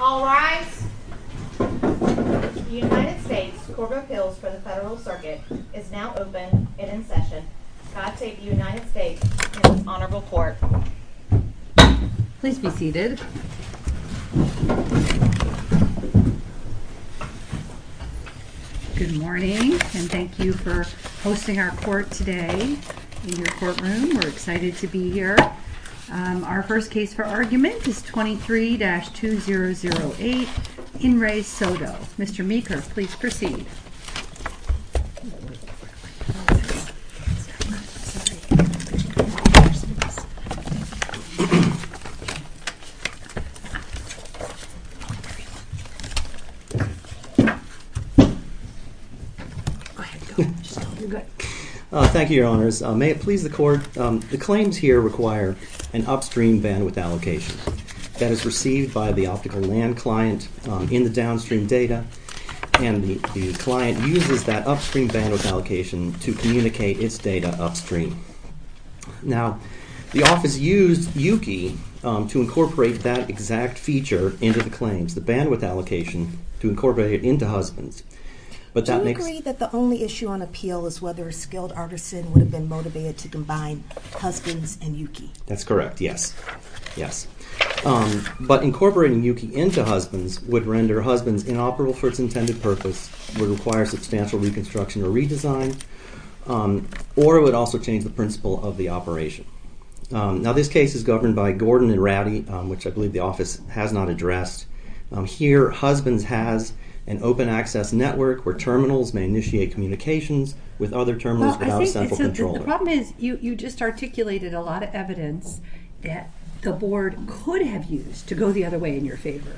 All rise. The United States Court of Appeals for the Federal Circuit is now open and in session. I take the United States in its honorable court. Please be seated. Good morning and thank you for hosting our court today in your courtroom. We're excited to be here. Our first case for argument is 23-2008 In Re. Soto. Mr. Meeker, please proceed. Thank you, Your Honors. May it please the court, the claims here require an upstream bandwidth allocation that is received by the optical LAN client in the downstream data. And the client uses that upstream bandwidth allocation to communicate its data upstream. Now, the office used Yuki to incorporate that exact feature into the claims, the bandwidth allocation to incorporate it into husbands. Do you agree that the only issue on appeal is whether a skilled artisan would have been motivated to combine husbands and Yuki? That's correct. Yes. Yes. But incorporating Yuki into husbands would render husbands inoperable for its intended purpose, would require substantial reconstruction or redesign, or it would also change the principle of the operation. Now, this case is governed by Gordon and Rowdy, which I believe the office has not addressed. Here, husbands has an open access network where terminals may initiate communications with other terminals without a central controller. The problem is you just articulated a lot of evidence that the board could have used to go the other way in your favor.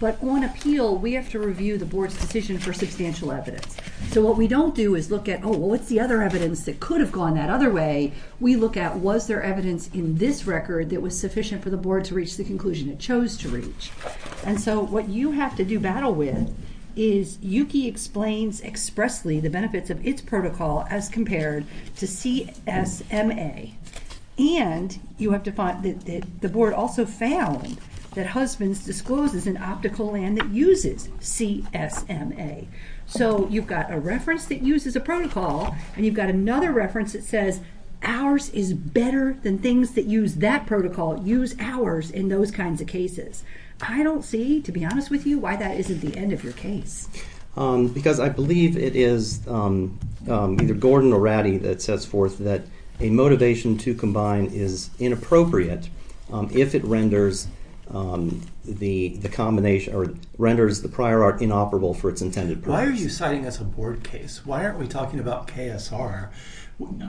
But on appeal, we have to review the board's decision for substantial evidence. So what we don't do is look at, oh, well, what's the other evidence that could have gone that other way? We look at was there evidence in this record that was sufficient for the board to reach the conclusion it chose to reach? And so what you have to do battle with is Yuki explains expressly the benefits of its protocol as compared to CSMA. And you have to find that the board also found that husbands discloses an optical LAN that uses CSMA. So you've got a reference that uses a protocol and you've got another reference that says ours is better than things that use that protocol, use ours in those kinds of cases. I don't see, to be honest with you, why that isn't the end of your case. Because I believe it is either Gordon or Rowdy that sets forth that a motivation to combine is inappropriate if it renders the combination or renders the prior art inoperable for its intended purpose. Why are you citing as a board case? Why aren't we talking about KSR?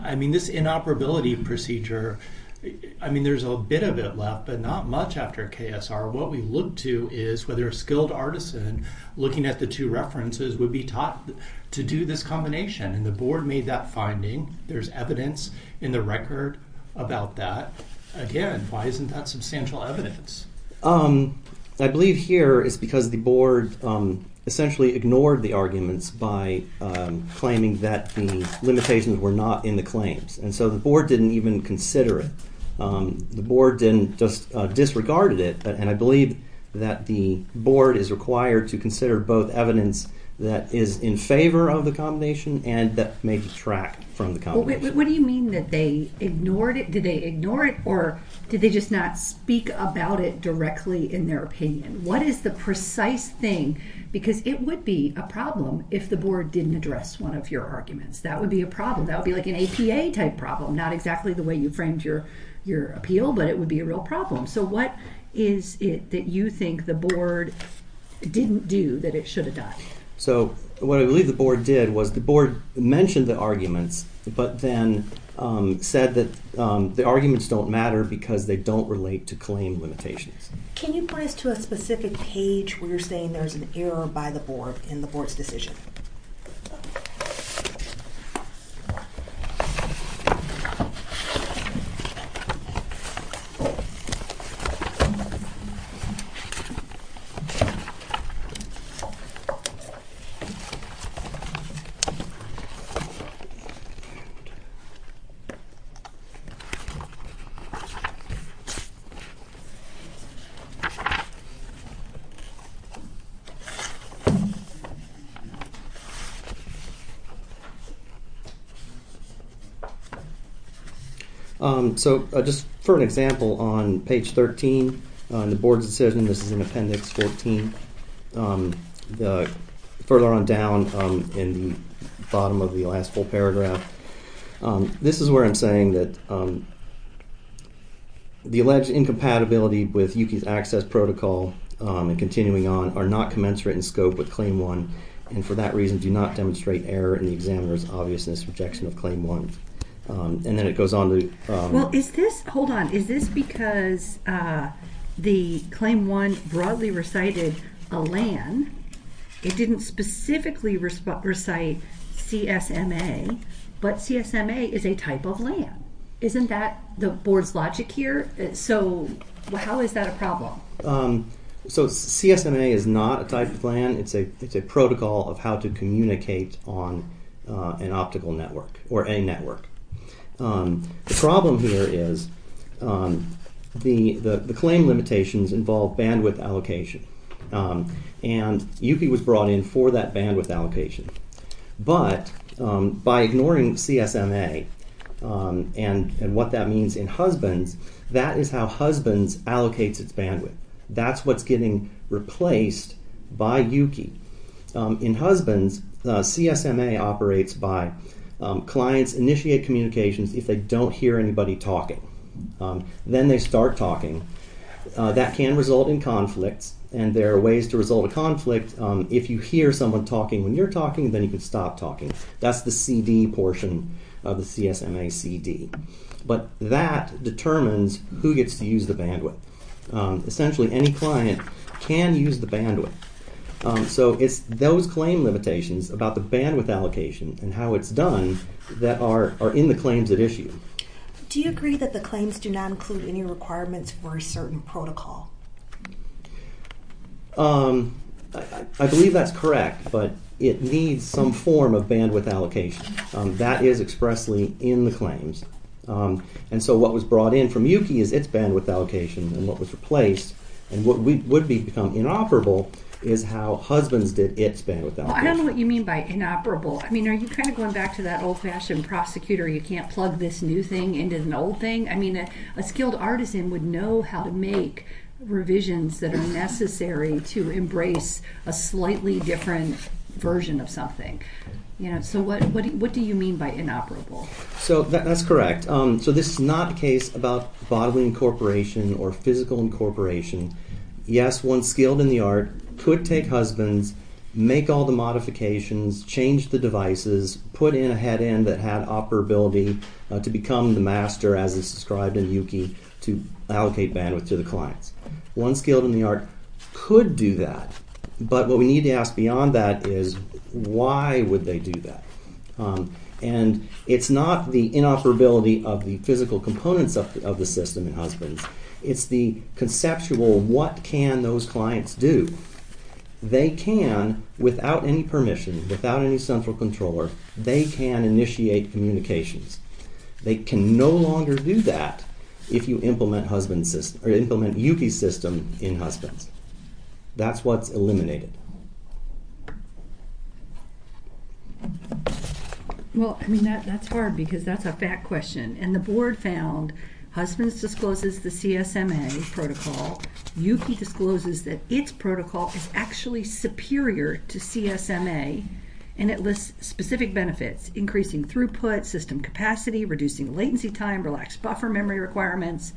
I mean, this inoperability procedure, I mean, there's a bit of it left, but not much after KSR. What we look to is whether a skilled artisan looking at the two references would be taught to do this combination. And the board made that finding. There's evidence in the record about that. Again, why isn't that substantial evidence? I believe here is because the board essentially ignored the arguments by claiming that the limitations were not in the claims. And so the board didn't even consider it. The board just disregarded it. And I believe that the board is required to consider both evidence that is in favor of the combination and that may detract from the combination. What do you mean that they ignored it? Did they ignore it or did they just not speak about it directly in their opinion? What is the precise thing? Because it would be a problem if the board didn't address one of your arguments. That would be a problem. That would be like an APA type problem. Not exactly the way you framed your appeal, but it would be a real problem. So what is it that you think the board didn't do that it should have done? So what I believe the board did was the board mentioned the arguments, but then said that the arguments don't matter because they don't relate to claim limitations. Can you point us to a specific page where you're saying there's an error by the board in the board's decision? So just for an example, on page 13 on the board's decision, this is in appendix 14. Further on down in the bottom of the last full paragraph, this is where I'm saying that the alleged incompatibility with Yuki's access protocol and continuing on are not commensurate in scope with claim one. And for that reason, do not demonstrate error in the examiner's obviousness rejection of claim one. Hold on. Is this because the claim one broadly recited a LAN? It didn't specifically recite CSMA, but CSMA is a type of LAN. Isn't that the board's logic here? So how is that a problem? So CSMA is not a type of LAN. It's a protocol of how to communicate on an optical network or a network. The problem here is the claim limitations involve bandwidth allocation. And Yuki was brought in for that bandwidth allocation. But by ignoring CSMA and what that means in husbands, that is how husbands allocates its bandwidth. That's what's getting replaced by Yuki. In husbands, CSMA operates by clients initiate communications if they don't hear anybody talking. Then they start talking. That can result in conflicts. And there are ways to result in conflict. If you hear someone talking when you're talking, then you can stop talking. That's the CD portion of the CSMA CD. But that determines who gets to use the bandwidth. Essentially, any client can use the bandwidth. So it's those claim limitations about the bandwidth allocation and how it's done that are in the claims at issue. Do you agree that the claims do not include any requirements for a certain protocol? I believe that's correct, but it needs some form of bandwidth allocation. That is expressly in the claims. And so what was brought in from Yuki is its bandwidth allocation and what was replaced and what would become inoperable is how husbands did its bandwidth allocation. I don't know what you mean by inoperable. I mean, are you kind of going back to that old-fashioned prosecutor, you can't plug this new thing into the old thing? I mean, a skilled artisan would know how to make revisions that are necessary to embrace a slightly different version of something. So what do you mean by inoperable? So that's correct. So this is not a case about bodily incorporation or physical incorporation. Yes, one skilled in the art could take husbands, make all the modifications, change the devices, put in a head end that had operability to become the master, as is described in Yuki, to allocate bandwidth to the clients. One skilled in the art could do that, but what we need to ask beyond that is why would they do that? And it's not the inoperability of the physical components of the system in husbands. It's the conceptual what can those clients do. They can, without any permission, without any central controller, they can initiate communications. They can no longer do that if you implement Yuki's system in husbands. That's what's eliminated. Well, I mean, that's hard because that's a fact question. And the board found husbands discloses the CSMA protocol. Yuki discloses that its protocol is actually superior to CSMA, and it lists specific benefits, increasing throughput, system capacity, reducing latency time, relaxed buffer memory requirements.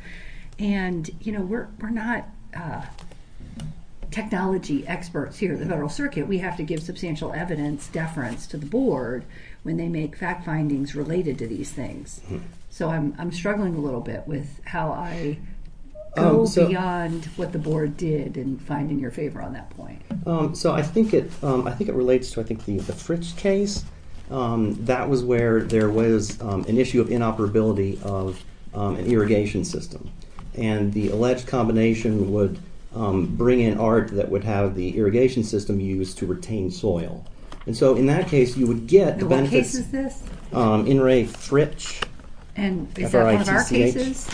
And, you know, we're not technology experts here at the Federal Circuit. We have to give substantial evidence deference to the board when they make fact findings related to these things. So I'm struggling a little bit with how I go beyond what the board did in finding your favor on that point. So I think it relates to, I think, the Fritz case. That was where there was an issue of inoperability of an irrigation system. And the alleged combination would bring in art that would have the irrigation system used to retain soil. And so in that case, you would get the benefits. And what case is this? In re Fritch. And is that one of our cases?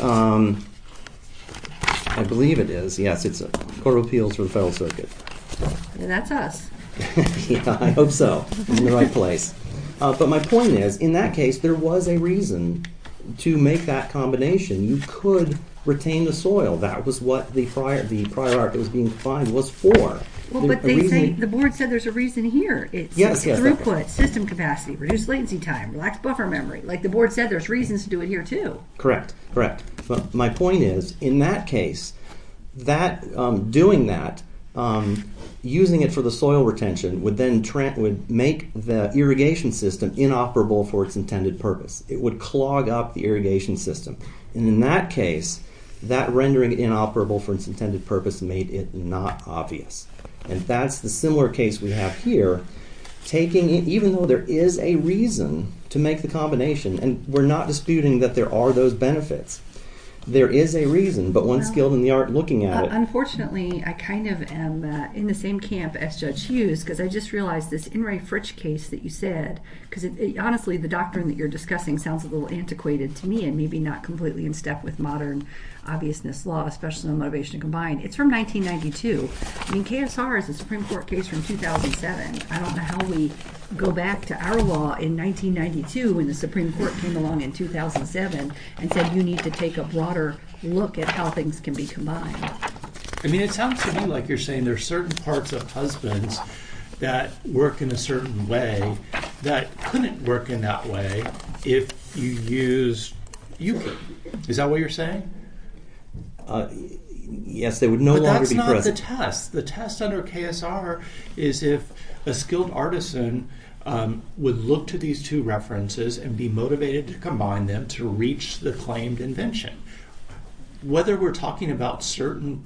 I believe it is. Yes, it's a Court of Appeals for the Federal Circuit. Then that's us. Yeah, I hope so. I'm in the right place. But my point is, in that case, there was a reason to make that combination. You could retain the soil. That was what the prior art that was being defined was for. Well, but the board said there's a reason here. It's throughput, system capacity, reduced latency time, relaxed buffer memory. Like the board said, there's reasons to do it here, too. Correct, correct. But my point is, in that case, doing that, using it for the soil retention would make the irrigation system inoperable for its intended purpose. It would clog up the irrigation system. And in that case, that rendering inoperable for its intended purpose made it not obvious. And that's the similar case we have here. Even though there is a reason to make the combination, and we're not disputing that there are those benefits. There is a reason, but one's skilled in the art looking at it. Unfortunately, I kind of am in the same camp as Judge Hughes, because I just realized this Enright Fritch case that you said, because honestly, the doctrine that you're discussing sounds a little antiquated to me, and maybe not completely in step with modern obviousness law, especially motivation combined. It's from 1992. I mean, KSR is a Supreme Court case from 2007. I don't know how we go back to our law in 1992 when the Supreme Court came along in 2007 and said, you need to take a broader look at how things can be combined. I mean, it sounds to me like you're saying there are certain parts of husbands that work in a certain way that couldn't work in that way if you use UKIP. Is that what you're saying? Yes, they would no longer be present. But the test, the test under KSR is if a skilled artisan would look to these two references and be motivated to combine them to reach the claimed invention. Whether we're talking about certain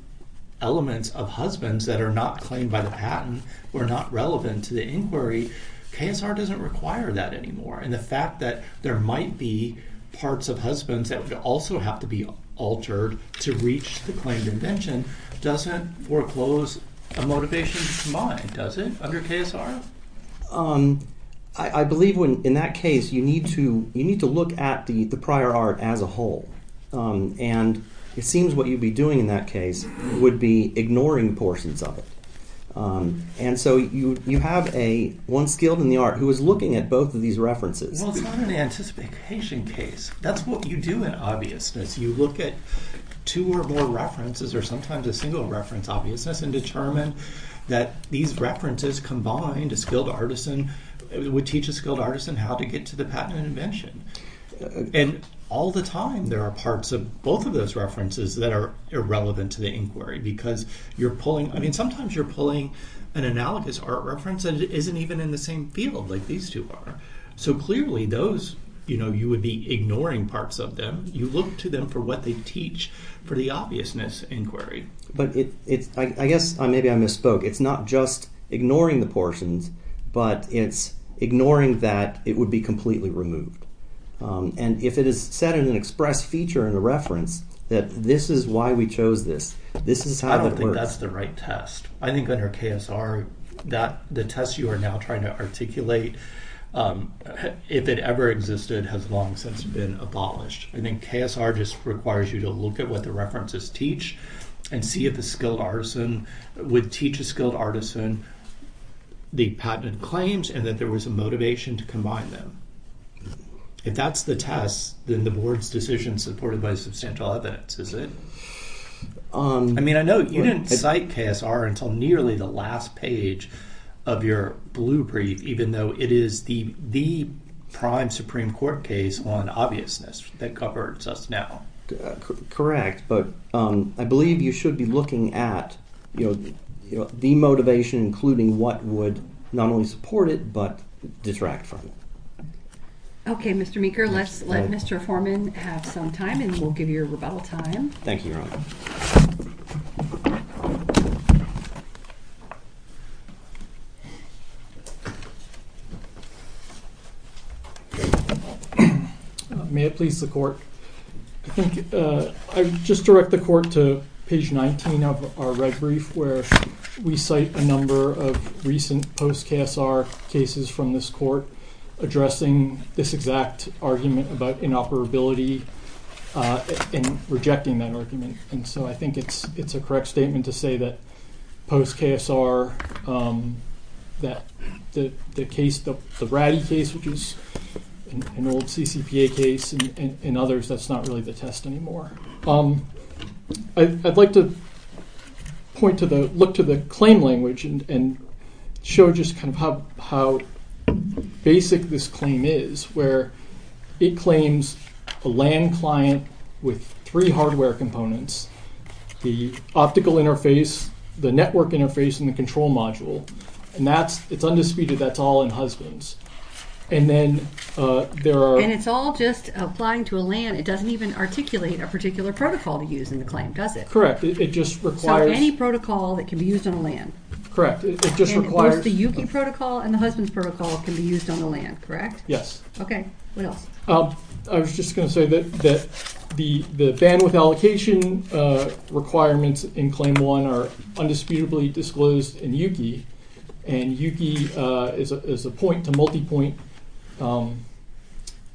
elements of husbands that are not claimed by the patent or not relevant to the inquiry, KSR doesn't require that anymore, and the fact that there might be parts of husbands that would also have to be altered to reach the claimed invention doesn't foreclose a motivation combined, does it, under KSR? I believe in that case you need to look at the prior art as a whole. And it seems what you'd be doing in that case would be ignoring portions of it. And so you have one skilled in the art who is looking at both of these references. Well, it's not an anticipation case. That's what you do in obviousness. You look at two or more references or sometimes a single reference obviousness and determine that these references combined a skilled artisan would teach a skilled artisan how to get to the patent invention. And all the time there are parts of both of those references that are irrelevant to the inquiry because you're pulling, I mean, sometimes you're pulling an analogous art reference that isn't even in the same field like these two are. So clearly those, you know, you would be ignoring parts of them. You look to them for what they teach for the obviousness inquiry. But I guess maybe I misspoke. It's not just ignoring the portions, but it's ignoring that it would be completely removed. And if it is set in an express feature in the reference that this is why we chose this, this is how it works. I don't think that's the right test. I think under KSR that the test you are now trying to articulate, if it ever existed, has long since been abolished. I think KSR just requires you to look at what the references teach and see if a skilled artisan would teach a skilled artisan the patented claims and that there was a motivation to combine them. If that's the test, then the board's decision is supported by substantial evidence, is it? I mean, I know you didn't cite KSR until nearly the last page of your blue brief, even though it is the prime Supreme Court case on obviousness that covers us now. Correct, but I believe you should be looking at the motivation, including what would not only support it, but detract from it. Okay, Mr. Meeker, let's let Mr. Foreman have some time and we'll give you your rebuttal time. Thank you, Your Honor. May it please the court. I think I just direct the court to page 19 of our red brief, where we cite a number of recent post-KSR cases from this court addressing this exact argument about inoperability and rejecting that argument. And so I think it's a correct statement to say that post-KSR that the case, the Ratty case, which is an old CCPA case and others, that's not really the test anymore. I'd like to point to the, look to the claim language and show just kind of how basic this claim is, where it claims a LAN client with three hardware components, the optical interface, the network interface, and the control module. And that's, it's undisputed that's all in husbands. And then there are... Correct. It just requires... Correct. It just requires... Yes. Okay. What else? I was just going to say that the bandwidth allocation requirements in Claim 1 are undisputably disclosed in YUKI, and YUKI is a point-to-multipoint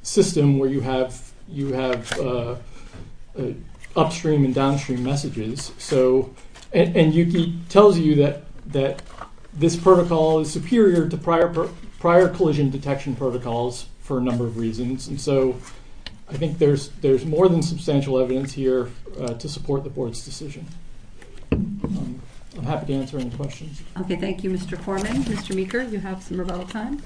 system where you have upstream and downstream messages. So, and YUKI tells you that this protocol is superior to prior collision detection protocols for a number of reasons. And so I think there's more than substantial evidence here to support the board's decision. I'm happy to answer any questions. Okay. Thank you, Mr. Korman. Mr. Meeker, you have some rebuttal time.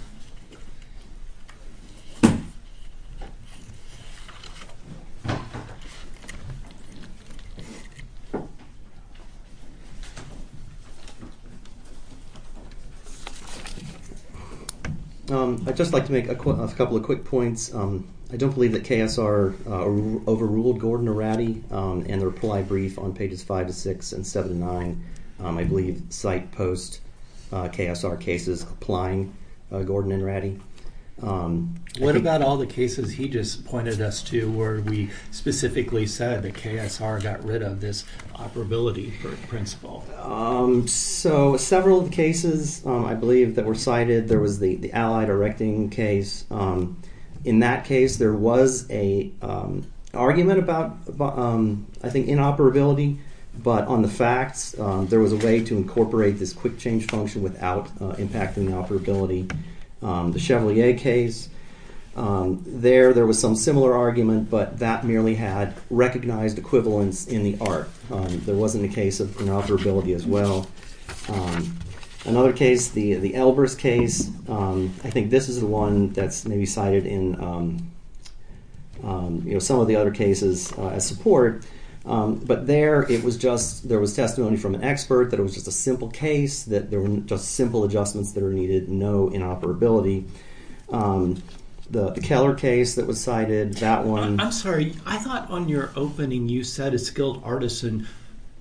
I'd just like to make a couple of quick points. I don't believe that KSR overruled Gordon Arati in the reply brief on pages 5 to 6 and 7 to 9. I believe site post-KSR cases applying Gordon Arati. What about all the cases he just pointed us to where we specifically said that KSR got rid of this operability principle? So, several of the cases, I believe, that were cited, there was the Allied Erecting case. In that case, there was an argument about, I think, inoperability, but on the facts, there was a way to incorporate this quick change function without impacting the operability. The Chevrolet case. There, there was some similar argument, but that merely had recognized equivalence in the art. There wasn't a case of inoperability as well. Another case, the Albers case. I think this is the one that's maybe cited in some of the other cases as support. But there, it was just, there was testimony from an expert that it was just a simple case, that there were just simple adjustments that are needed, no inoperability. The Keller case that was cited, that one... I'm sorry, I thought on your opening, you said a skilled artisan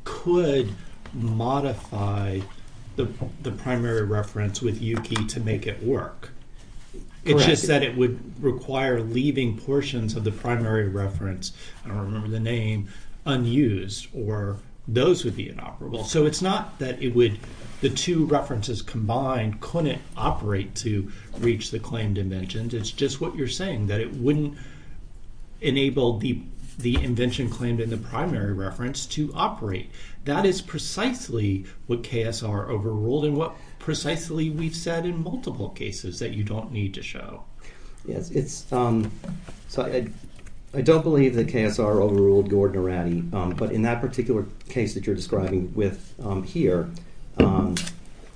could modify the primary reference with UKEY to make it work. Correct. It just said it would require leaving portions of the primary reference. I don't remember the name, unused, or those would be inoperable. So it's not that it would, the two references combined couldn't operate to reach the claimed inventions. It's just what you're saying, that it wouldn't enable the invention claimed in the primary reference to operate. That is precisely what KSR overruled and what precisely we've said in multiple cases that you don't need to show. Yes, it's, so I don't believe that KSR overruled Gordon Arati, but in that particular case that you're describing with here,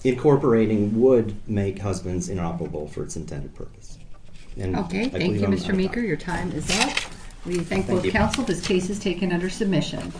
incorporating would make husbands inoperable for its intended purpose. Okay, thank you Mr. Meeker, your time is up. We thank both counsel, this case is taken under submission.